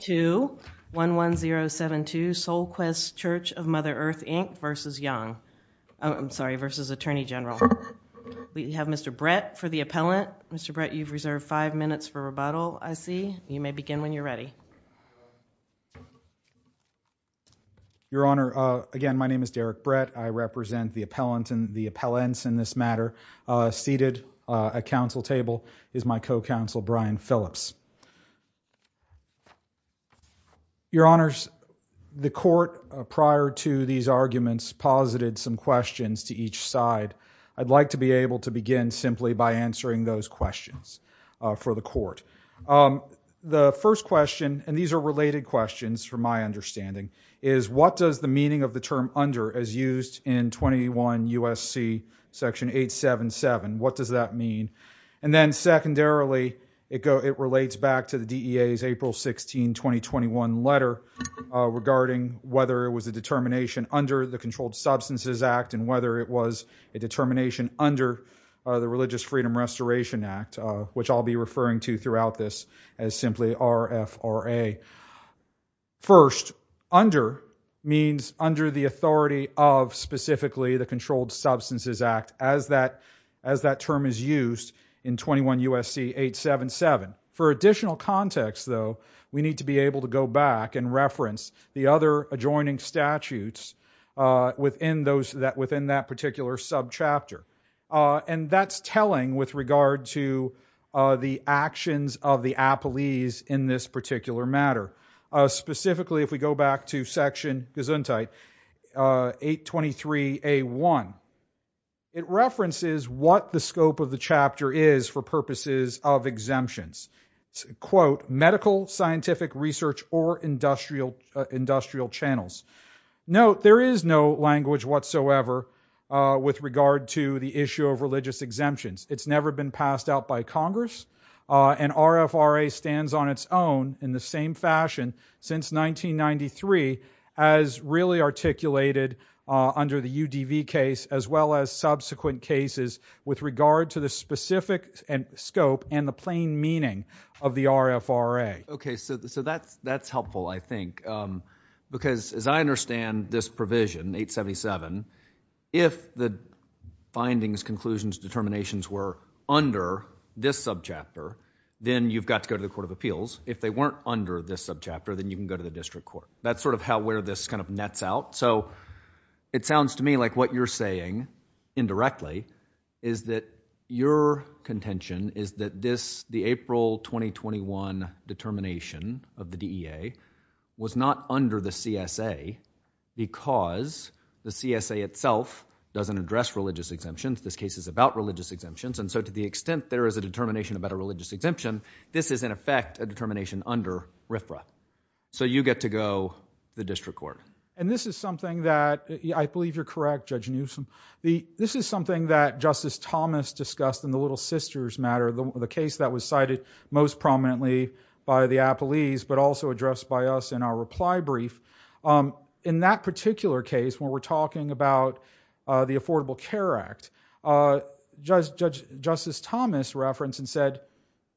to 11072 Sol Quest Church of Mother Earth, Inc. v. Attorney General. We have Mr. Brett for the appellant. Mr. Brett, you've reserved five minutes for rebuttal, I see. You may begin when you're ready. Your Honor, again, my name is Derek Brett. I represent the appellants in this matter. Seated at counsel table is my co-counsel, Brian Phillips. Your Honors, the court, prior to these arguments, posited some questions to each side. I'd like to be able to begin simply by answering those questions for the court. The first question, and these are related questions from my understanding, is what does the meaning of the term under as used in 21 U.S.C. section 877, what does that mean? And then secondarily, it relates back to the DEA's April 16, 2021 letter regarding whether it was a determination under the Controlled Substances Act and whether it was a determination under the Religious Freedom Restoration Act, which I'll be referring to throughout this as simply RFRA. First, under means under the authority of specifically the Controlled Substances Act as that term is used in 21 U.S.C. 877. For additional context, though, we need to be able to go back and reference the other adjoining statutes within that particular subchapter. And that's telling with regard to the actions of the appellees in this particular matter. Specifically, if we go back to section Gesundheit 823A1, it references what the scope of the chapter is for purposes of exemptions. Quote, medical, scientific, research, or industrial channels. Note, there is no language whatsoever with regard to the issue of religious exemptions. It's never been passed out by Congress, and RFRA stands on its own in the same fashion since 1993 as really articulated under the UDV case as well as subsequent cases with regard to the specific scope and the plain meaning of the RFRA. Okay, so that's helpful, I think, because as I understand this provision, 877, if the findings, conclusions, determinations were under this subchapter, then you've got to go to the Court of Appeals. If they weren't under this subchapter, then you can go to the District Court. That's sort of how where this kind of nets out. So it sounds to me like what you're saying indirectly is that your contention is that the April 2021 determination of the DEA was not under the CSA because the CSA itself doesn't address religious exemptions. This case is about religious exemptions, and so to the extent there is a determination about a religious exemption, this is, in effect, a determination under RFRA. So you get to go to the District Court. And this is something that, I believe you're correct, Judge Newsom, this is something that was cited most prominently by the appellees but also addressed by us in our reply brief. In that particular case, when we're talking about the Affordable Care Act, Justice Thomas referenced and said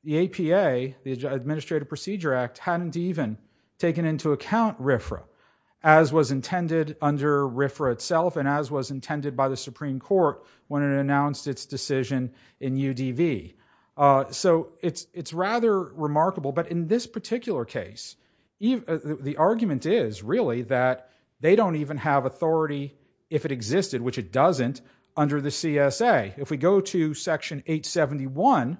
the APA, the Administrative Procedure Act, hadn't even taken into account RFRA as was intended under RFRA itself and as was intended by the Supreme Court when it announced its decision in UDV. So it's rather remarkable. But in this particular case, the argument is really that they don't even have authority if it existed, which it doesn't, under the CSA. If we go to Section 871,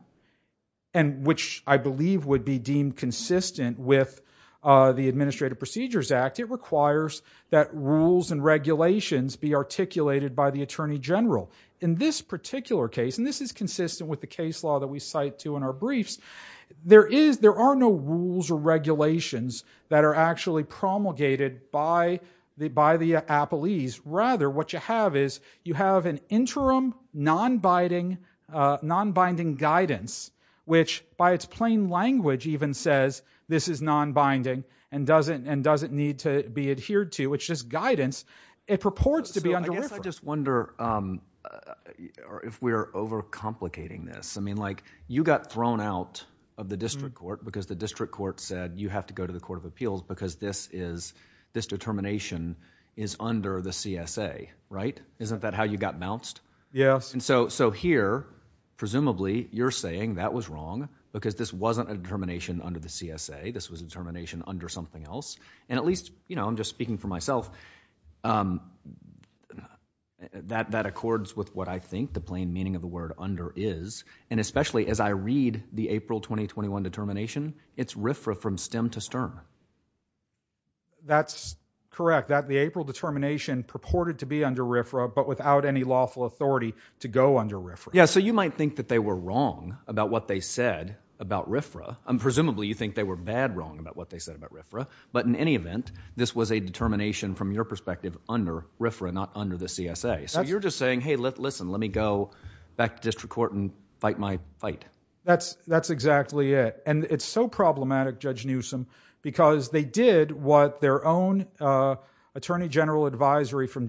which I believe would be deemed consistent with the Administrative Procedures Act, it requires that rules and regulations be articulated by the Attorney General. In this particular case, and this is consistent with the case law that we cite to in our briefs, there are no rules or regulations that are actually promulgated by the appellees. Rather, what you have is you have an interim non-binding guidance, which by its plain language even says this is non-binding and doesn't need to be adhered to, which is guidance. It purports to be under RFRA. I just wonder if we're overcomplicating this. You got thrown out of the district court because the district court said you have to go to the Court of Appeals because this determination is under the CSA, right? Isn't that how you got bounced? Yes. So here, presumably, you're saying that was wrong because this wasn't a determination under the CSA. This was a determination under something else. And at least, you know, I'm just speaking for myself, that accords with what I think the plain meaning of the word under is. And especially as I read the April 2021 determination, it's RFRA from stem to stern. That's correct, that the April determination purported to be under RFRA but without any lawful authority to go under RFRA. Yes. So you might think that they were wrong about what they said about RFRA. Presumably, you think they were bad wrong about what they said about RFRA. But in any event, this was a determination from your perspective under RFRA, not under the CSA. So you're just saying, hey, listen, let me go back to district court and fight my fight. That's exactly it. And it's so problematic, Judge Newsom, because they did what their own attorney general advisory from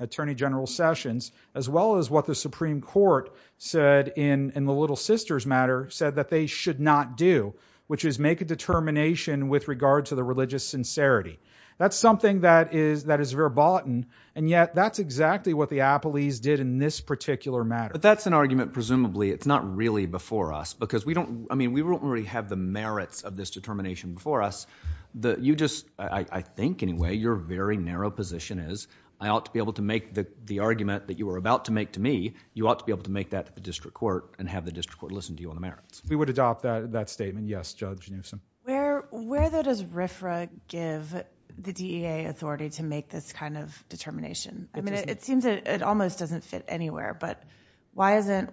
Attorney General Sessions, as well as what the Supreme Court said in the Little Sisters matter, said that they should not do, which is make a determination with regard to the religious sincerity. That's something that is verboten. And yet, that's exactly what the appellees did in this particular matter. But that's an argument, presumably, it's not really before us, because we don't, I mean, we don't really have the merits of this determination before us. You just, I think anyway, your very narrow position is, I ought to be able to make the argument that you were about to make to me, you ought to be able to make that to the district court and have the district court listen to you on the merits. We would adopt that statement, yes, Judge Newsom. Where, though, does RFRA give the DEA authority to make this kind of determination? I mean, it seems it almost doesn't fit anywhere, but why isn't the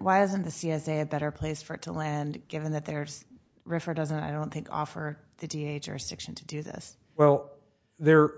CSA a better place for it to land, given that there's, RFRA doesn't, I don't think, offer the DEA jurisdiction to do this? Well, there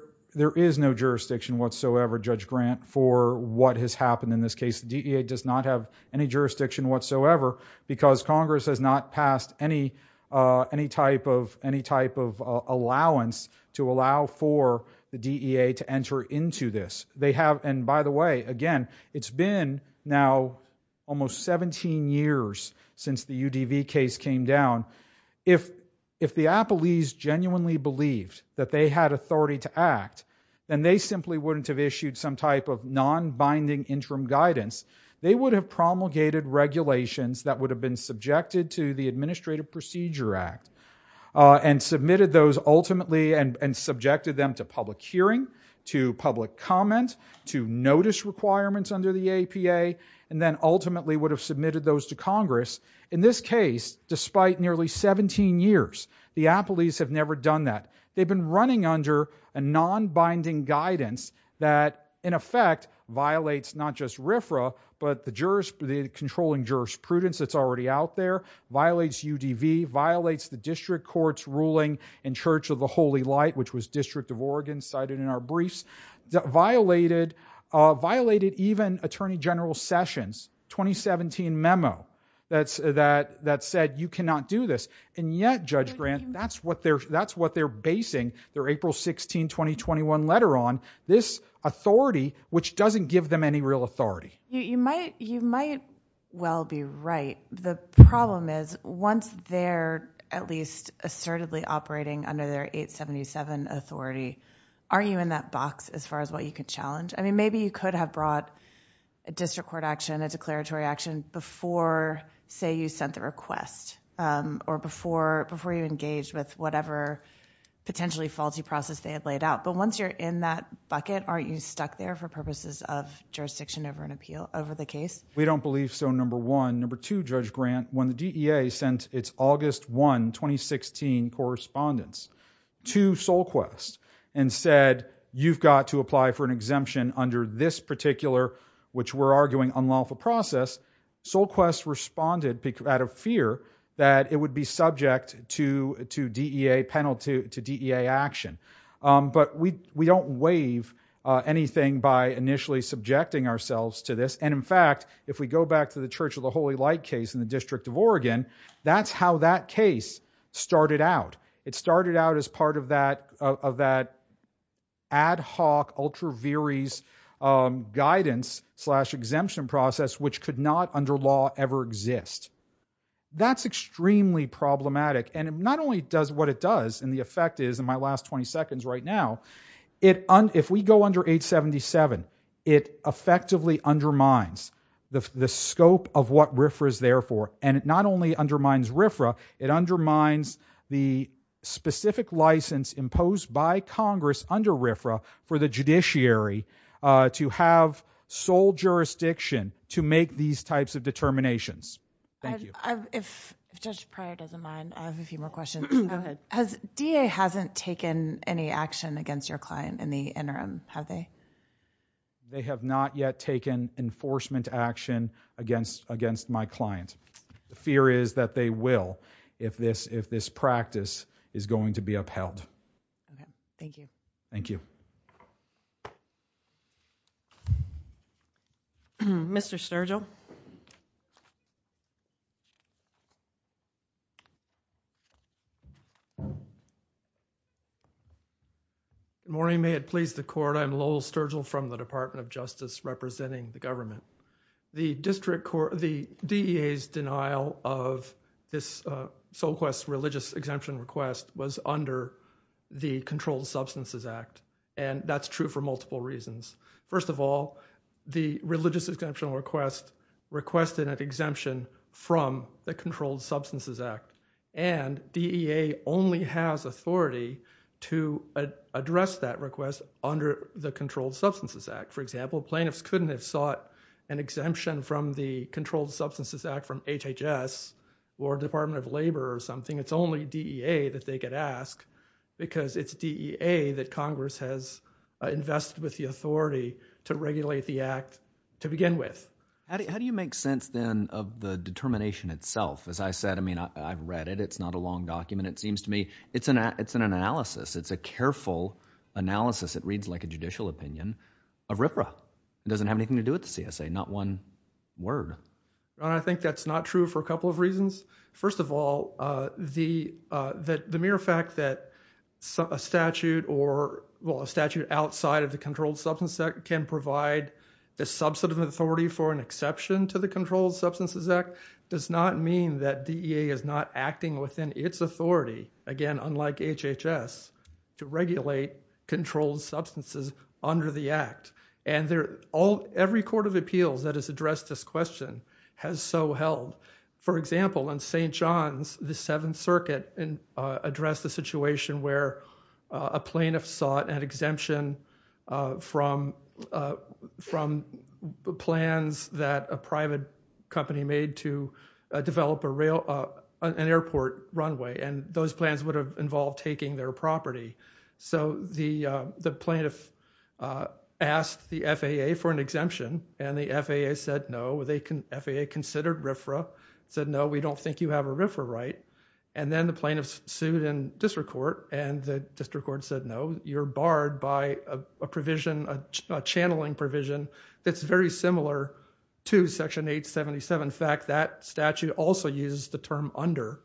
is no jurisdiction whatsoever, Judge Grant, for what has happened in this case. DEA does not have any jurisdiction whatsoever, because Congress has not passed any, any type of, any type of allowance to allow for the DEA to enter into this. They have, and by the way, again, it's been now almost 17 years since the UDV case came down. If, if the Appellees genuinely believed that they had authority to act, then they simply wouldn't have issued some type of non-binding interim guidance. They would have promulgated regulations that would have been subjected to the Administrative Procedure Act, and submitted those ultimately, and subjected them to public hearing, to public comment, to notice requirements under the APA, and then ultimately would have submitted those to Congress. In this case, despite nearly 17 years, the Appellees have never done that. They've been running under a non-binding guidance that, in effect, violates not just RFRA, but the jurors, the controlling jurisprudence that's already out there, violates UDV, violates the District Court's ruling in Church of the Holy Light, which was District of Oregon, cited in our briefs, violated, violated even Attorney General Sessions' 2017 memo that's, that, that said, you cannot do this. And yet, Judge Grant, that's what they're, that's what they're basing their April 16, 2021 letter on, this authority, which doesn't give them any real authority. You might, you might well be right. The problem is, once they're at least assertively operating under their 877 authority, aren't you in that box as far as what you could challenge? I mean, maybe you could have brought a District Court action, a declaratory action before, say, you sent the request, or before, before you engaged with whatever potentially faulty process they had laid out. But once you're in that bucket, aren't you stuck there for purposes of jurisdiction over an appeal, over the case? We don't believe so, number one. Number two, Judge Grant, when the DEA sent its August 1, 2016 correspondence to SolQuest and said, you've got to apply for an exemption under this particular, which we're arguing unlawful process, SolQuest responded out of fear that it would be subject to, to DEA penalty, to DEA action. But we, we don't waive anything by initially subjecting ourselves to this. And in fact, if we go back to the Church of the Holy Light case in the District of Oregon, that's how that case started out. It started out as part of that, of that ad hoc, ultra viris guidance slash exemption process, which could not under law ever exist. That's extremely problematic. And it not only does what it does, and the effect is, in my last 20 seconds right now, it, if we go under 877, it effectively undermines the, the scope of what RFRA is there for. And it not only undermines RFRA, it undermines the specific license imposed by Congress under RFRA for the judiciary to have sole jurisdiction to make these types of determinations. I've, I've, if Judge Pryor doesn't mind, I have a few more questions. Has, DEA hasn't taken any action against your client in the interim, have they? They have not yet taken enforcement action against, against my client. The fear is that they will if this, if this practice is going to be upheld. Okay. Thank you. Thank you. Mr. Sturgill. Good morning, may it please the Court. I'm Lowell Sturgill from the Department of Justice representing the government. The district court, the DEA's denial of this, uh, so-called religious exemption request was under the Controlled Substances Act, and that's true for multiple reasons. First of all, the religious exemption request requested an exemption from the Controlled Substances Act, and DEA only has authority to address that request under the Controlled Substances Act. For example, plaintiffs couldn't have sought an exemption from the Controlled Substances Act from HHS or Department of Labor or something. It's only DEA that they could ask because it's DEA that Congress has invested with the authority to regulate the act to begin with. How do you make sense then of the determination itself? As I said, I mean, I've read it. It's not a long document. It seems to me it's an, it's an analysis. It's a careful analysis. It reads like a judicial opinion of RFRA. It doesn't have anything to do with the CSA. Not one word. John, I think that's not true for a couple of reasons. First of all, uh, the, uh, the mere fact that a statute or, well, a statute outside of the Controlled Substances Act can provide a subset of authority for an exception to the Controlled Substances Act does not mean that DEA is not acting within its authority, again, unlike HHS to regulate controlled substances under the act. And they're all, every court of appeals that has addressed this question has so held. For example, in St. John's, the Seventh Circuit, uh, addressed the situation where, uh, a plaintiff sought an exemption, uh, from, uh, from the plans that a private company made to develop a rail, uh, an airport runway. And those plans would have involved taking their property. So the, uh, the plaintiff, uh, asked the FAA for an exemption and the FAA said no. They can, FAA considered RFRA, said no, we don't think you have a RFRA right. And then the plaintiff sued in district court and the district court said no, you're barred by a provision, a channeling provision that's very similar to Section 877. In fact, that statute also uses the term under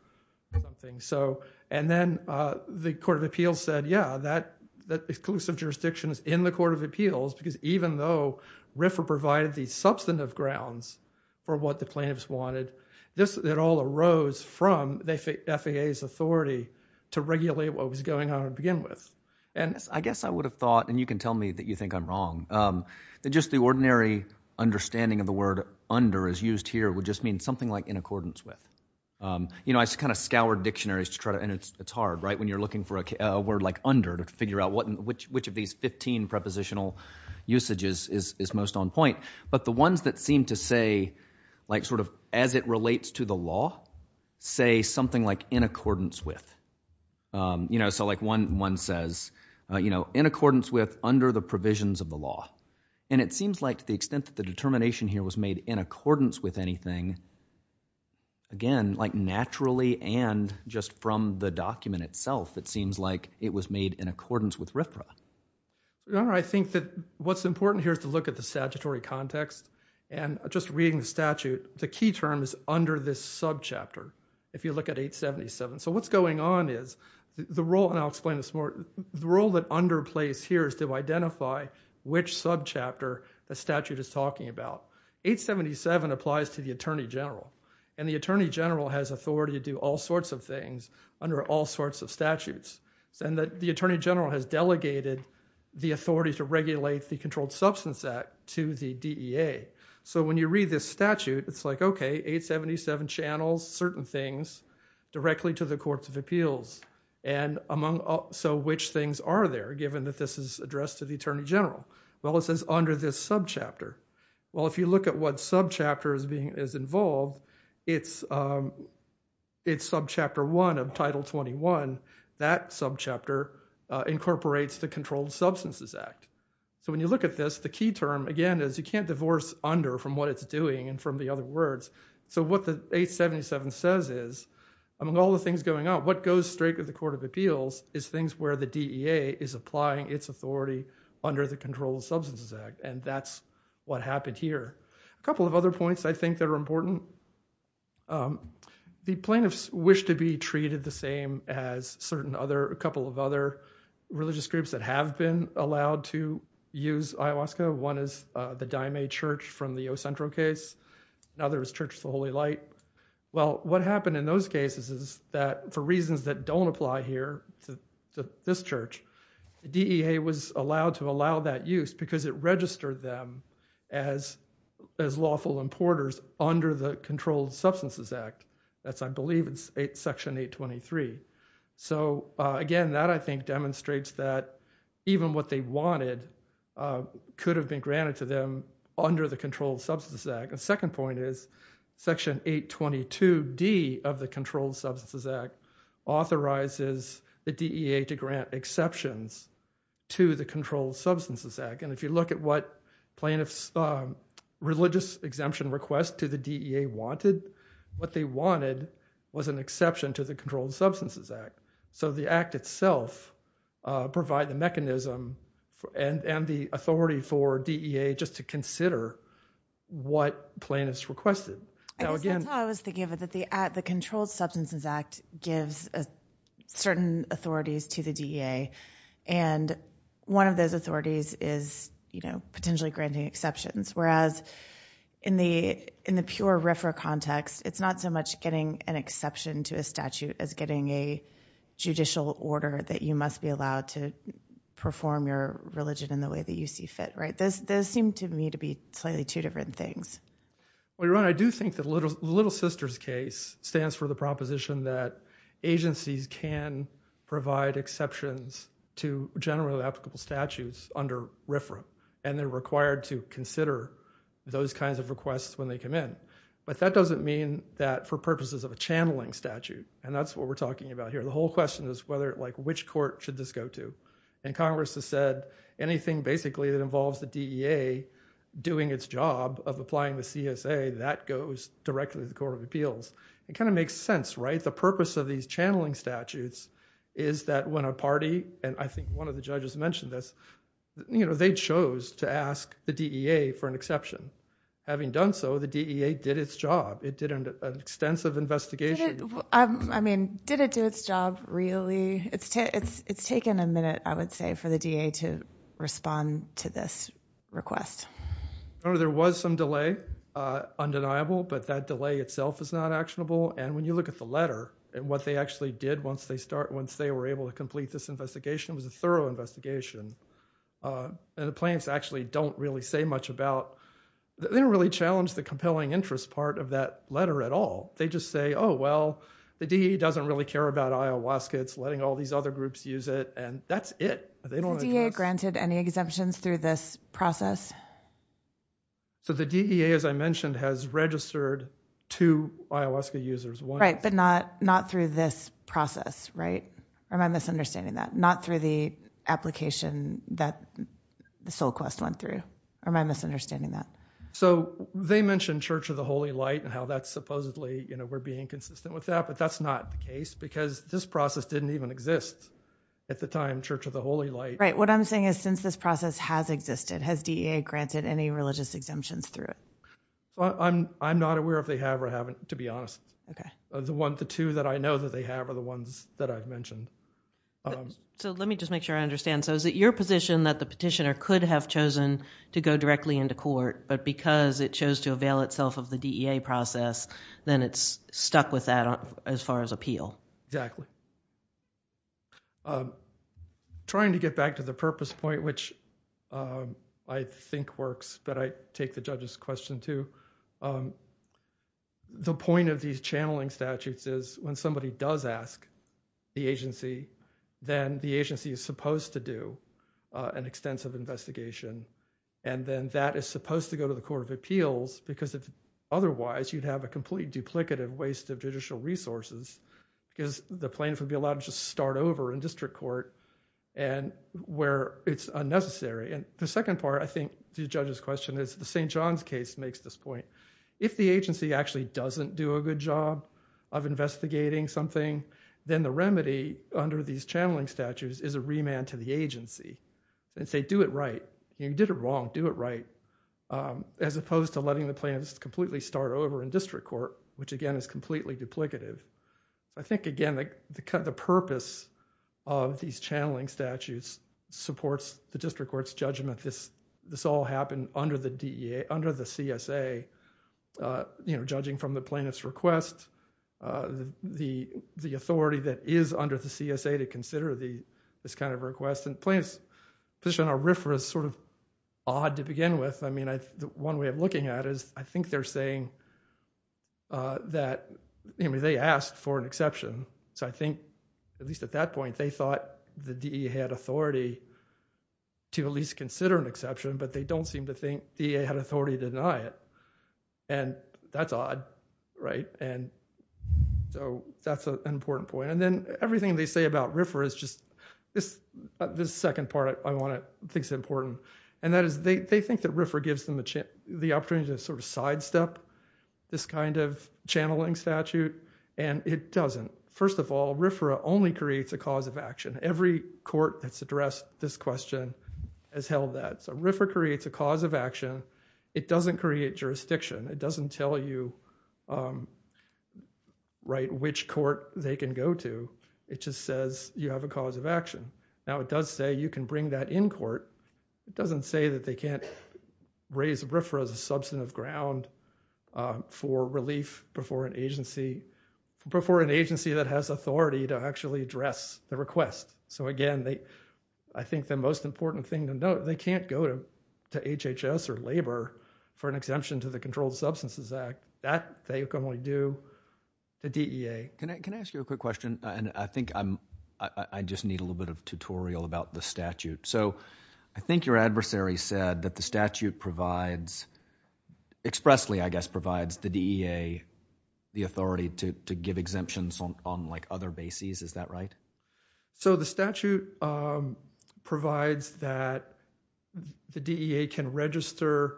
something. So, and then, uh, the court of appeals said, yeah, that, that exclusive jurisdiction is in the court of appeals because even though RFRA provided the substantive grounds for what the plaintiffs wanted, this, it all arose from the FAA's authority to regulate what was going on to begin with. And I guess I would have thought, and you can tell me that you think I'm wrong, um, that just the ordinary understanding of the word under as used here would just mean something like in accordance with. Um, you know, I just kind of scoured dictionaries to try to, and it's, it's hard, right, when you're looking for a word like under to figure out what, which, which of these 15 prepositional usages is, is most on point. But the ones that seem to say, like sort of as it relates to the law, say something like in accordance with, um, you know, so like one, one says, uh, you know, in accordance with under the provisions of the law. And it seems like to the extent that the determination here was made in accordance with anything, again, like naturally and just from the document itself, it seems like it was made in accordance with RFRA. Your Honor, I think that what's important here is to look at the statutory context and just reading the statute, the key term is under this subchapter, if you look at 877. So what's going on is the role, and I'll explain this more, the role that underplays here is to identify which subchapter a statute is talking about. 877 applies to the Attorney General, and the Attorney General has authority to do all sorts of things under all sorts of statutes, and that the Attorney General has delegated the authority to regulate the Controlled Substance Act to the DEA. So when you read this statute, it's like, okay, 877 channels certain things directly to the Courts of Appeals, and among so which things are there, given that this is addressed to the Attorney General? Well, it says under this subchapter. Well, if you look at what subchapter is involved, it's subchapter 1 of Title 21, that subchapter incorporates the Controlled Substances Act. So when you look at this, the key term, again, is you can't divorce under from what it's doing and from the other words. So what the 877 says is, among all the things going on, what goes straight to the Court of Appeals is things where the DEA is applying its authority under the Controlled Substances Act, and that's what happened here. A couple of other points I think that are important. The plaintiffs wish to be treated the same as certain other, a couple of other religious groups that have been allowed to use IOWASCA. One is the Daime Church from the Ocentro case, another is Church of the Holy Light. Well, what happened in those cases is that for reasons that don't apply here to this church, the DEA was allowed to allow that use because it registered them as lawful importers under the Controlled Substances Act. That's I believe it's Section 823. So again, that I think demonstrates that even what they wanted could have been granted to them under the Controlled Substances Act. The second point is Section 822D of the Controlled Substances Act authorizes the DEA to grant exceptions to the Controlled Substances Act. And if you look at what plaintiffs' religious exemption request to the DEA wanted, what they wanted was an exception to the Controlled Substances Act. So the Act itself provide the mechanism and the authority for DEA just to consider what plaintiffs requested. Now again- I guess that's how I was thinking of it, that the Controlled Substances Act gives certain authorities to the DEA. And one of those authorities is potentially granting exceptions, whereas in the pure RFRA context, it's not so much getting an exception to a statute as getting a judicial order that you must be allowed to perform your religion in the way that you see fit, right? Those seem to me to be slightly two different things. Well, your Honor, I do think that Little Sister's case stands for the proposition that agencies can provide exceptions to generally applicable statutes under RFRA. And they're required to consider those kinds of requests when they come in. But that doesn't mean that for purposes of a channeling statute, and that's what we're talking about here. The whole question is whether, like, which court should this go to? And Congress has said anything basically that involves the DEA doing its job of applying the CSA, that goes directly to the Court of Appeals. It kind of makes sense, right? The purpose of these channeling statutes is that when a party, and I think one of the judges mentioned this, you know, they chose to ask the DEA for an exception. Having done so, the DEA did its job. It did an extensive investigation. I mean, did it do its job really? It's taken a minute, I would say, for the DEA to respond to this request. Your Honor, there was some delay, undeniable, but that delay itself is not actionable. And when you look at the letter, what they actually did once they start, once they were able to complete this investigation, it was a thorough investigation, and the plaintiffs actually don't really say much about, they don't really challenge the compelling interest part of that letter at all. They just say, oh, well, the DEA doesn't really care about ayahuasca, it's letting all these other groups use it, and that's it. They don't want to do this. Has the DEA granted any exemptions through this process? So the DEA, as I mentioned, has registered two ayahuasca users. Right, but not through this process, right? Or am I misunderstanding that? Not through the application that the SolQuest went through, or am I misunderstanding that? So they mentioned Church of the Holy Light and how that's supposedly, we're being consistent with that, but that's not the case, because this process didn't even exist at the time, Church of the Holy Light. Right, what I'm saying is, since this process has existed, has DEA granted any religious exemptions through it? I'm not aware if they have or haven't, to be honest. The two that I know that they have are the ones that I've mentioned. So let me just make sure I understand. So is it your position that the petitioner could have chosen to go directly into court, but because it chose to avail itself of the DEA process, then it's stuck with that as far as appeal? Exactly. Trying to get back to the purpose point, which I think works, but I take the judge's question too, the point of these channeling statutes is, when somebody does ask the agency, then the agency is supposed to do an extensive investigation, and then that is supposed to go to the Court of Appeals, because otherwise, you'd have a completely duplicative waste of judicial resources, because the plaintiff would be allowed to just start over in district court where it's unnecessary. The second part, I think, to the judge's question is, the St. John's case makes this point. If the agency actually doesn't do a good job of investigating something, then the remedy under these channeling statutes is a remand to the agency and say, do it right. You did it wrong, do it right, as opposed to letting the plaintiff completely start over in district court, which again is completely duplicative. I think again, the purpose of these channeling statutes supports the district court's judgment, this all happened under the CSA, judging from the plaintiff's request, the authority that is under the CSA to consider this kind of request, and plaintiff's position on RFRA is sort of odd to begin with. One way of looking at it is, I think they're saying that, they asked for an exception, so I think, at least at that point, they thought the DEA had authority to at least consider an exception, but they don't seem to think the DEA had authority to deny it. That's odd, right? That's an important point. Then, everything they say about RFRA is just, this second part I want to think is important, and that is, they think that RFRA gives them the opportunity to sort of sidestep this kind of channeling statute, and it doesn't. First of all, RFRA only creates a cause of action. Every court that's addressed this question has held that. RFRA creates a cause of action, it doesn't create jurisdiction, it doesn't tell you which court they can go to, it just says you have a cause of action. Now, it does say you can bring that in court, it doesn't say that they can't raise RFRA as a substantive ground for relief before an agency that has authority to actually address the request. Again, I think the most important thing to note, they can't go to HHS or labor for an exemption to the Controlled Substances Act. That they can only do the DEA. Can I ask you a quick question? So, I think your adversary said that the statute provides, expressly I guess provides the DEA the authority to give exemptions on like other bases, is that right? So the statute provides that the DEA can register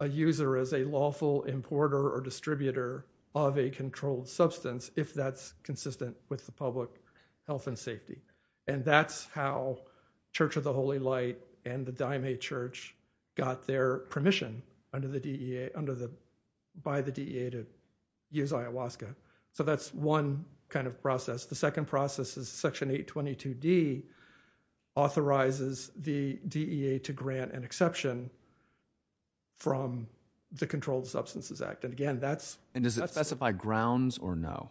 a user as a lawful importer or distributor of a controlled substance if that's consistent with the public health and safety. And that's how Church of the Holy Light and the Dime A Church got their permission under the DEA, under the, by the DEA to use ayahuasca. So that's one kind of process. The second process is Section 822D authorizes the DEA to grant an exception from the Controlled Substances Act. And again, that's... And does it specify grounds or no?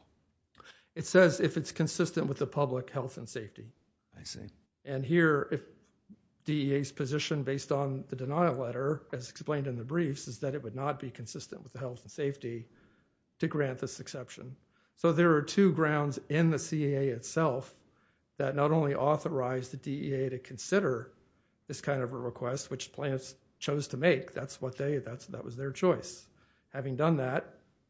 It says if it's consistent with the public health and safety. I see. And here, DEA's position based on the denial letter, as explained in the briefs, is that it would not be consistent with the health and safety to grant this exception. So there are two grounds in the CEA itself that not only authorize the DEA to consider this kind of a request, which plants chose to make. That's what they, that was their choice. Having done that,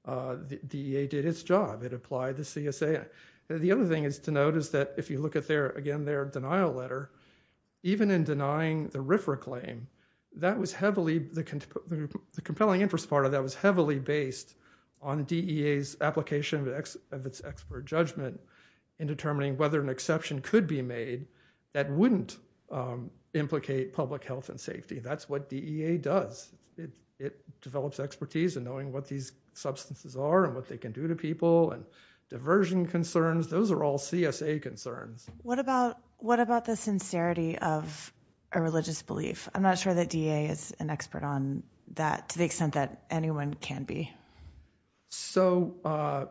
the DEA did its job. It applied the CSA. The other thing is to notice that if you look at their, again, their denial letter, even in denying the RFRA claim, that was heavily, the compelling interest part of that was heavily based on DEA's application of its expert judgment in determining whether an exception could be made that wouldn't implicate public health and safety. That's what DEA does. It develops expertise in knowing what these substances are and what they can do to people and diversion concerns. Those are all CSA concerns. What about, what about the sincerity of a religious belief? I'm not sure that DEA is an expert on that to the extent that anyone can be. So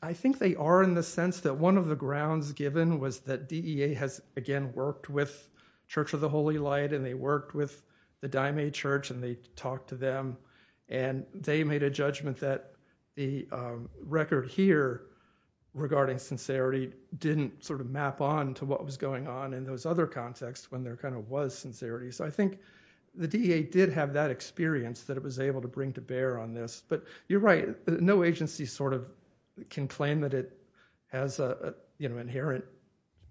I think they are in the sense that one of the grounds given was that DEA has again worked with Church of the Holy Light and they worked with the Dime Church and they talked to them and they made a judgment that the record here regarding sincerity didn't sort of map on to what was going on in those other contexts when there kind of was sincerity. So I think the DEA did have that experience that it was able to bring to bear on this. But you're right, no agency sort of can claim that it has a, you know, inherent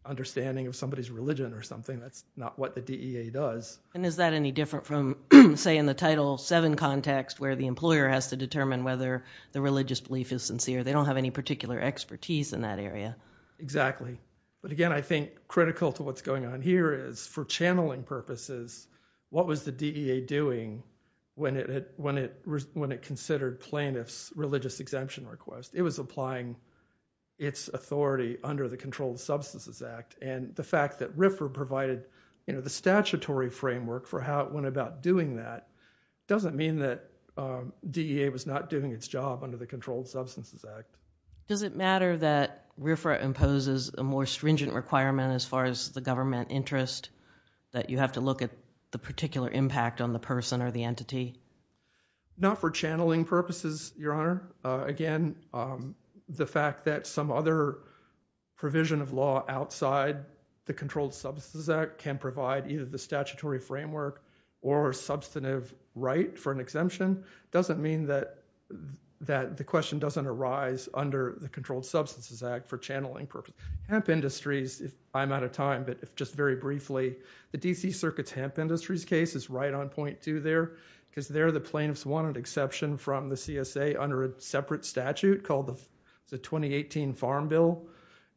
understanding of somebody's religion or something. That's not what the DEA does. And is that any different from, say, in the Title VII context where the employer has to determine whether the religious belief is sincere? They don't have any particular expertise in that area. Exactly. But again, I think critical to what's going on here is for channeling purposes, what was the DEA doing when it considered plaintiff's religious exemption request? It was applying its authority under the Controlled Substances Act. And the fact that RFRA provided, you know, the statutory framework for how it went about doing that doesn't mean that DEA was not doing its job under the Controlled Substances Act. Does it matter that RFRA imposes a more stringent requirement as far as the government interest that you have to look at the particular impact on the person or the entity? Not for channeling purposes, Your Honor. Again, the fact that some other provision of law outside the Controlled Substances Act can provide either the statutory framework or substantive right for an exemption doesn't mean that the question doesn't arise under the Controlled Substances Act for channeling purposes. Hemp Industries, if I'm out of time, but just very briefly, the D.C. Circuit's Hemp Industries case is right on point too there because there the plaintiffs wanted exception from the CSA under a separate statute called the 2018 Farm Bill.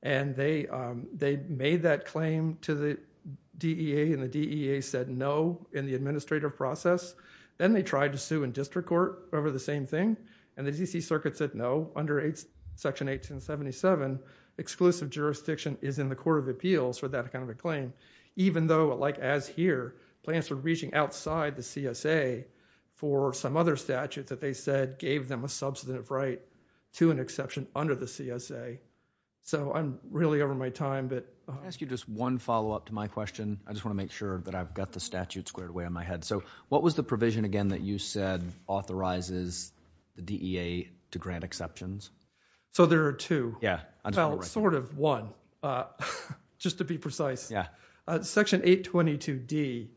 And they made that claim to the DEA, and the DEA said no in the administrative process. Then they tried to sue in district court over the same thing, and the D.C. Circuit said no under Section 1877, exclusive jurisdiction is in the Court of Appeals for that kind of a claim. Even though, like as here, plaintiffs were reaching outside the CSA for some other statute that they said gave them a substantive right to an exception under the CSA. So I'm really over my time, but... Can I ask you just one follow-up to my question? I just want to make sure that I've got the statute squared away on my head. So what was the provision again that you said authorizes the DEA to grant exceptions? Yeah, I just want to make sure. Sort of one, just to be precise. Section 822D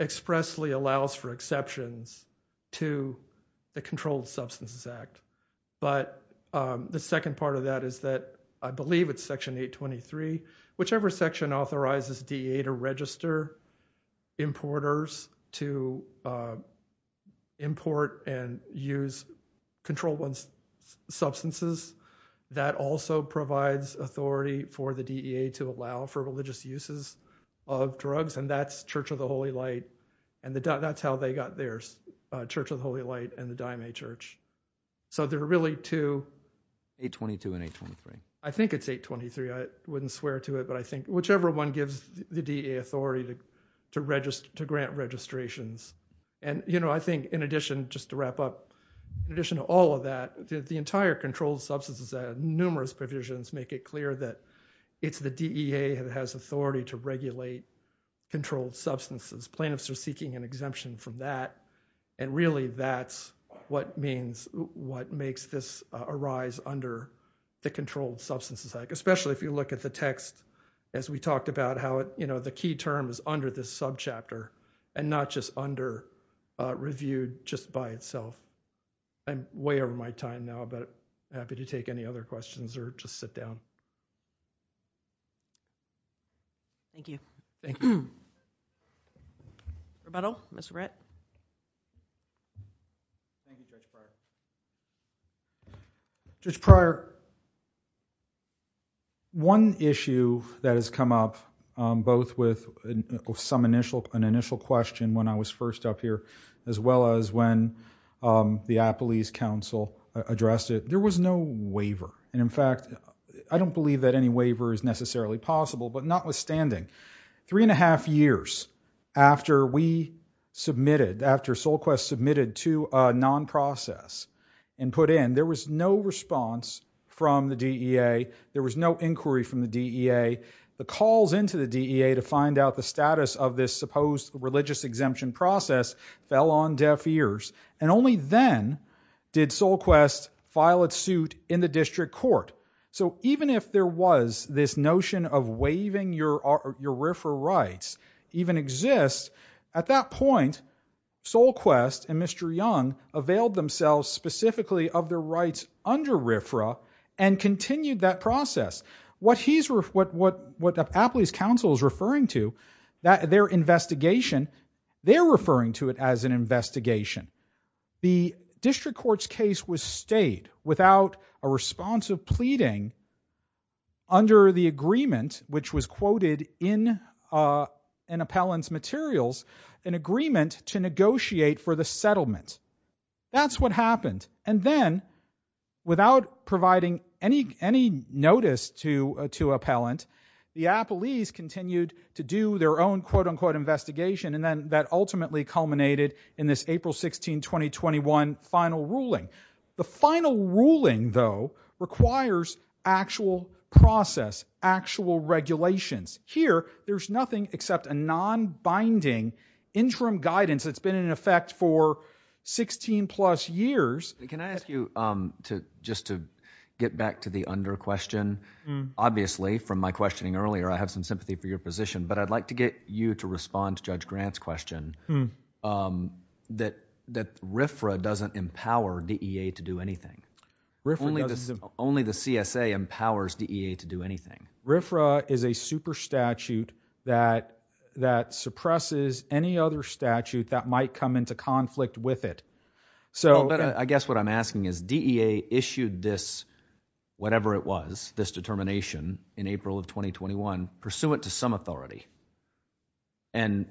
expressly allows for exceptions to the Controlled Substances Act. But the second part of that is that, I believe it's Section 823, whichever section authorizes DEA to register importers to import and use controlled substances, that also provides authority for the DEA to allow for religious uses of drugs, and that's Church of the Holy Light, and that's how they got theirs, Church of the Holy Light and the Diomede Church. So there are really two... 822 and 823. I think it's 823. I wouldn't swear to it, but I think whichever one gives the DEA authority to grant registrations. And, you know, I think in addition, just to wrap up, in addition to all of that, the entire Controlled Substances Act, numerous provisions make it clear that it's the DEA that has authority to regulate controlled substances. Plaintiffs are seeking an exemption from that. And really, that's what means, what makes this arise under the Controlled Substances Act, especially if you look at the text, as we talked about how it, you know, the key term is under this subchapter and not just under reviewed just by itself. I'm way over my time now, but happy to take any other questions or just sit down. Thank you. Thank you. Rebuttal? Mr. Brett? Thank you, Judge Pryor. One issue that has come up, both with some initial, an initial question when I was first up here, as well as when the Appelese Council addressed it, there was no waiver. And in fact, I don't believe that any waiver is necessarily possible. But notwithstanding, three and a half years after we submitted, after SolQuest submitted to a non-process and put in, there was no response from the DEA. There was no inquiry from the DEA. The calls into the DEA to find out the status of this supposed religious exemption process, fell on deaf ears. And only then did SolQuest file its suit in the district court. So even if there was this notion of waiving your RFRA rights even exist, at that point, SolQuest and Mr. Young availed themselves specifically of their rights under RFRA and continued that process. What he's, what the Appelese Council is referring to, their investigation, they're referring to it as an investigation. The district court's case was stayed without a response of pleading under the agreement, which was quoted in an appellant's materials, an agreement to negotiate for the settlement. That's what happened. And then, without providing any, any notice to, to appellant, the Appelese continued to do their own quote unquote investigation. And then that ultimately culminated in this April 16, 2021 final ruling. The final ruling though, requires actual process, actual regulations. Here, there's nothing except a non-binding interim guidance. It's been in effect for 16 plus years. Can I ask you to, just to get back to the under question, obviously from my questioning earlier, I have some sympathy for your position, but I'd like to get you to respond to Judge Grant's question that RFRA doesn't empower DEA to do anything. Only the CSA empowers DEA to do anything. RFRA is a super statute that, that suppresses any other statute that might come into conflict with it. So, I guess what I'm asking is DEA issued this, whatever it was, this determination in April of 2021, pursuant to some authority. And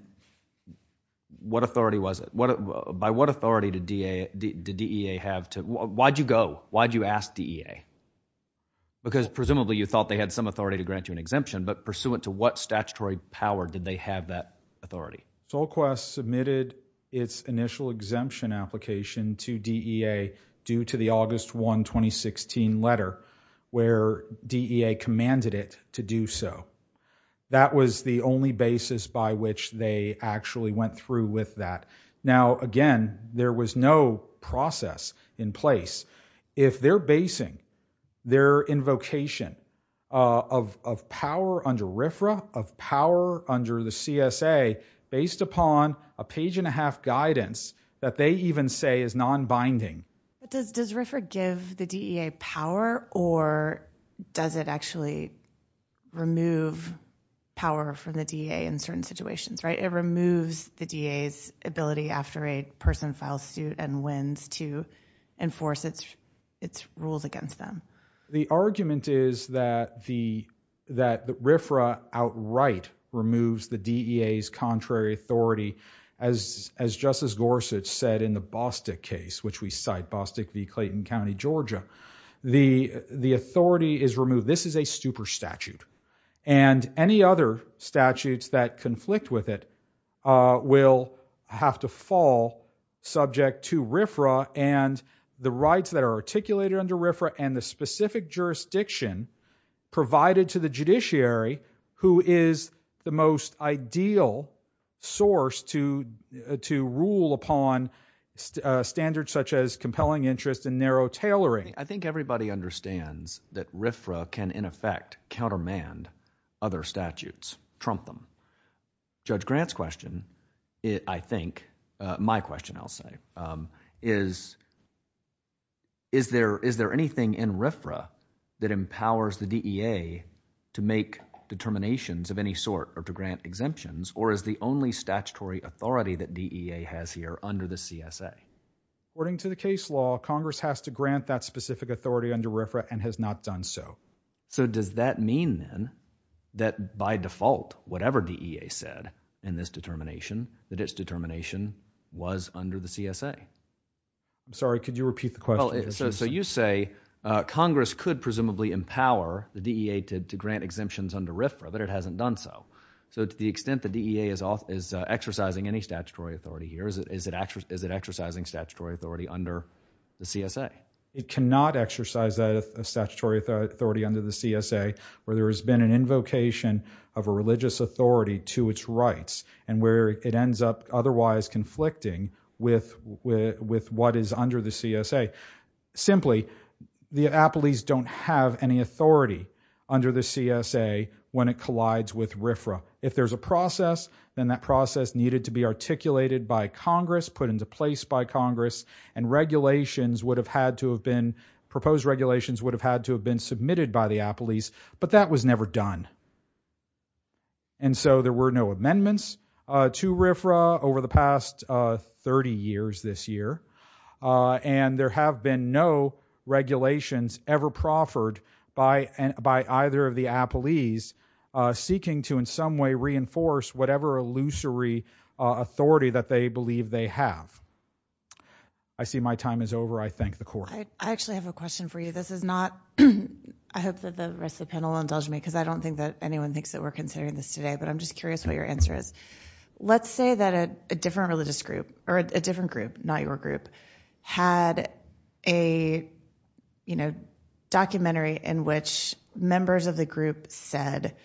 what authority was it? By what authority did DEA have to, why'd you go? Why'd you ask DEA? Because presumably you thought they had some authority to grant you an exemption, but pursuant to what statutory power did they have that authority? SolQuest submitted its initial exemption application to DEA due to the August 1, 2016 letter where DEA commanded it to do so. That was the only basis by which they actually went through with that. Now, again, there was no process in place. If they're basing their invocation of, of power under RFRA, of power under the CSA, based upon a page and a half guidance that they even say is non-binding. But does, does RFRA give the DEA power or does it actually remove power from the DEA in certain situations, right? It removes the DEA's ability after a person files suit and wins to enforce its, its rules against them. The argument is that the, that the RFRA outright removes the DEA's contrary authority as, as Justice Gorsuch said in the Bostick case, which we cite Bostick v. Clayton County, Georgia. The, the authority is removed. This is a super statute and any other statutes that conflict with it will have to fall subject to RFRA and the rights that are articulated under RFRA and the specific jurisdiction provided to the judiciary, who is the most ideal source to, to rule upon standards such as compelling interest and narrow tailoring. I think everybody understands that RFRA can in effect countermand other statutes, trump them. Judge Grant's question, I think, my question I'll say, is, is there, is there anything in RFRA that empowers the DEA to make determinations of any sort or to grant exemptions or is the only statutory authority that DEA has here under the CSA? According to the case law, Congress has to grant that specific authority under RFRA and has not done so. So does that mean then that by default, whatever DEA said in this determination, that its determination was under the CSA? Sorry, could you repeat the question? So you say Congress could presumably empower the DEA to grant exemptions under RFRA, but it hasn't done so. So to the extent the DEA is off, is exercising any statutory authority here, is it, is it actually, is it exercising statutory authority under the CSA? It cannot exercise a statutory authority under the CSA where there has been an invocation of a religious authority to its rights and where it ends up otherwise conflicting with, with what is under the CSA. Simply, the appellees don't have any authority under the CSA when it collides with RFRA. If there's a process, then that process needed to be articulated by Congress, put into place by Congress, and regulations would have had to have been, proposed regulations would have had to have been submitted by the appellees, but that was never done. And so there were no amendments to RFRA over the past 30 years this year. And there have been no regulations ever proffered by, by either of the appellees seeking to in some way reinforce whatever illusory authority that they believe they have. I see my time is over. I thank the court. I actually have a question for you. This is not, I hope that the rest of the panel will indulge me, because I don't think that anyone thinks that we're considering this today, but I'm just curious what your answer is. Let's say that a different religious group, or a different group, not your group, had a, you know, documentary in which members of the group said,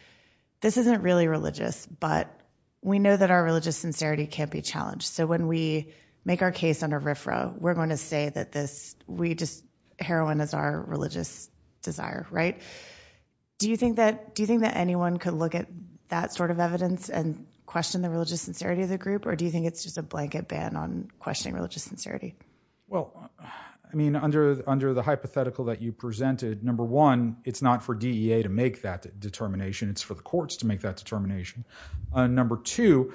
this isn't really religious, but we know that our religious sincerity can't be challenged. So when we make our case under RFRA, we're going to say that this, we just, heroin is our religious desire, right? Do you think that, do you think that anyone could look at that sort of evidence and question the religious sincerity of the group? Or do you think it's just a blanket ban on questioning religious sincerity? Well, I mean, under, under the hypothetical that you presented, number one, it's not for DEA to make that determination. It's for the courts to make that determination. Number two,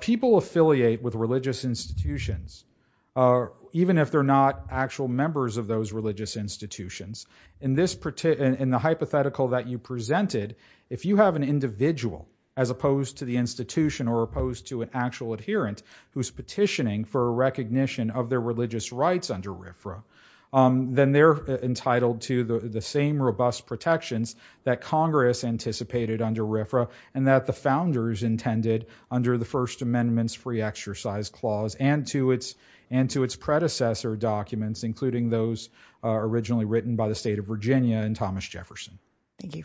people affiliate with religious institutions, even if they're not actual members of those religious institutions. In this, in the hypothetical that you presented, if you have an individual, as opposed to the institution, or opposed to an actual adherent, who's petitioning for a recognition of their religious rights under RFRA, then they're entitled to the same robust protections that Congress anticipated under RFRA, and that the founders intended under the First Amendment's Free Exercise Clause, and to its, and to its predecessor documents, including those originally written by the state of Virginia and Thomas Jefferson. Thank you. Thank you.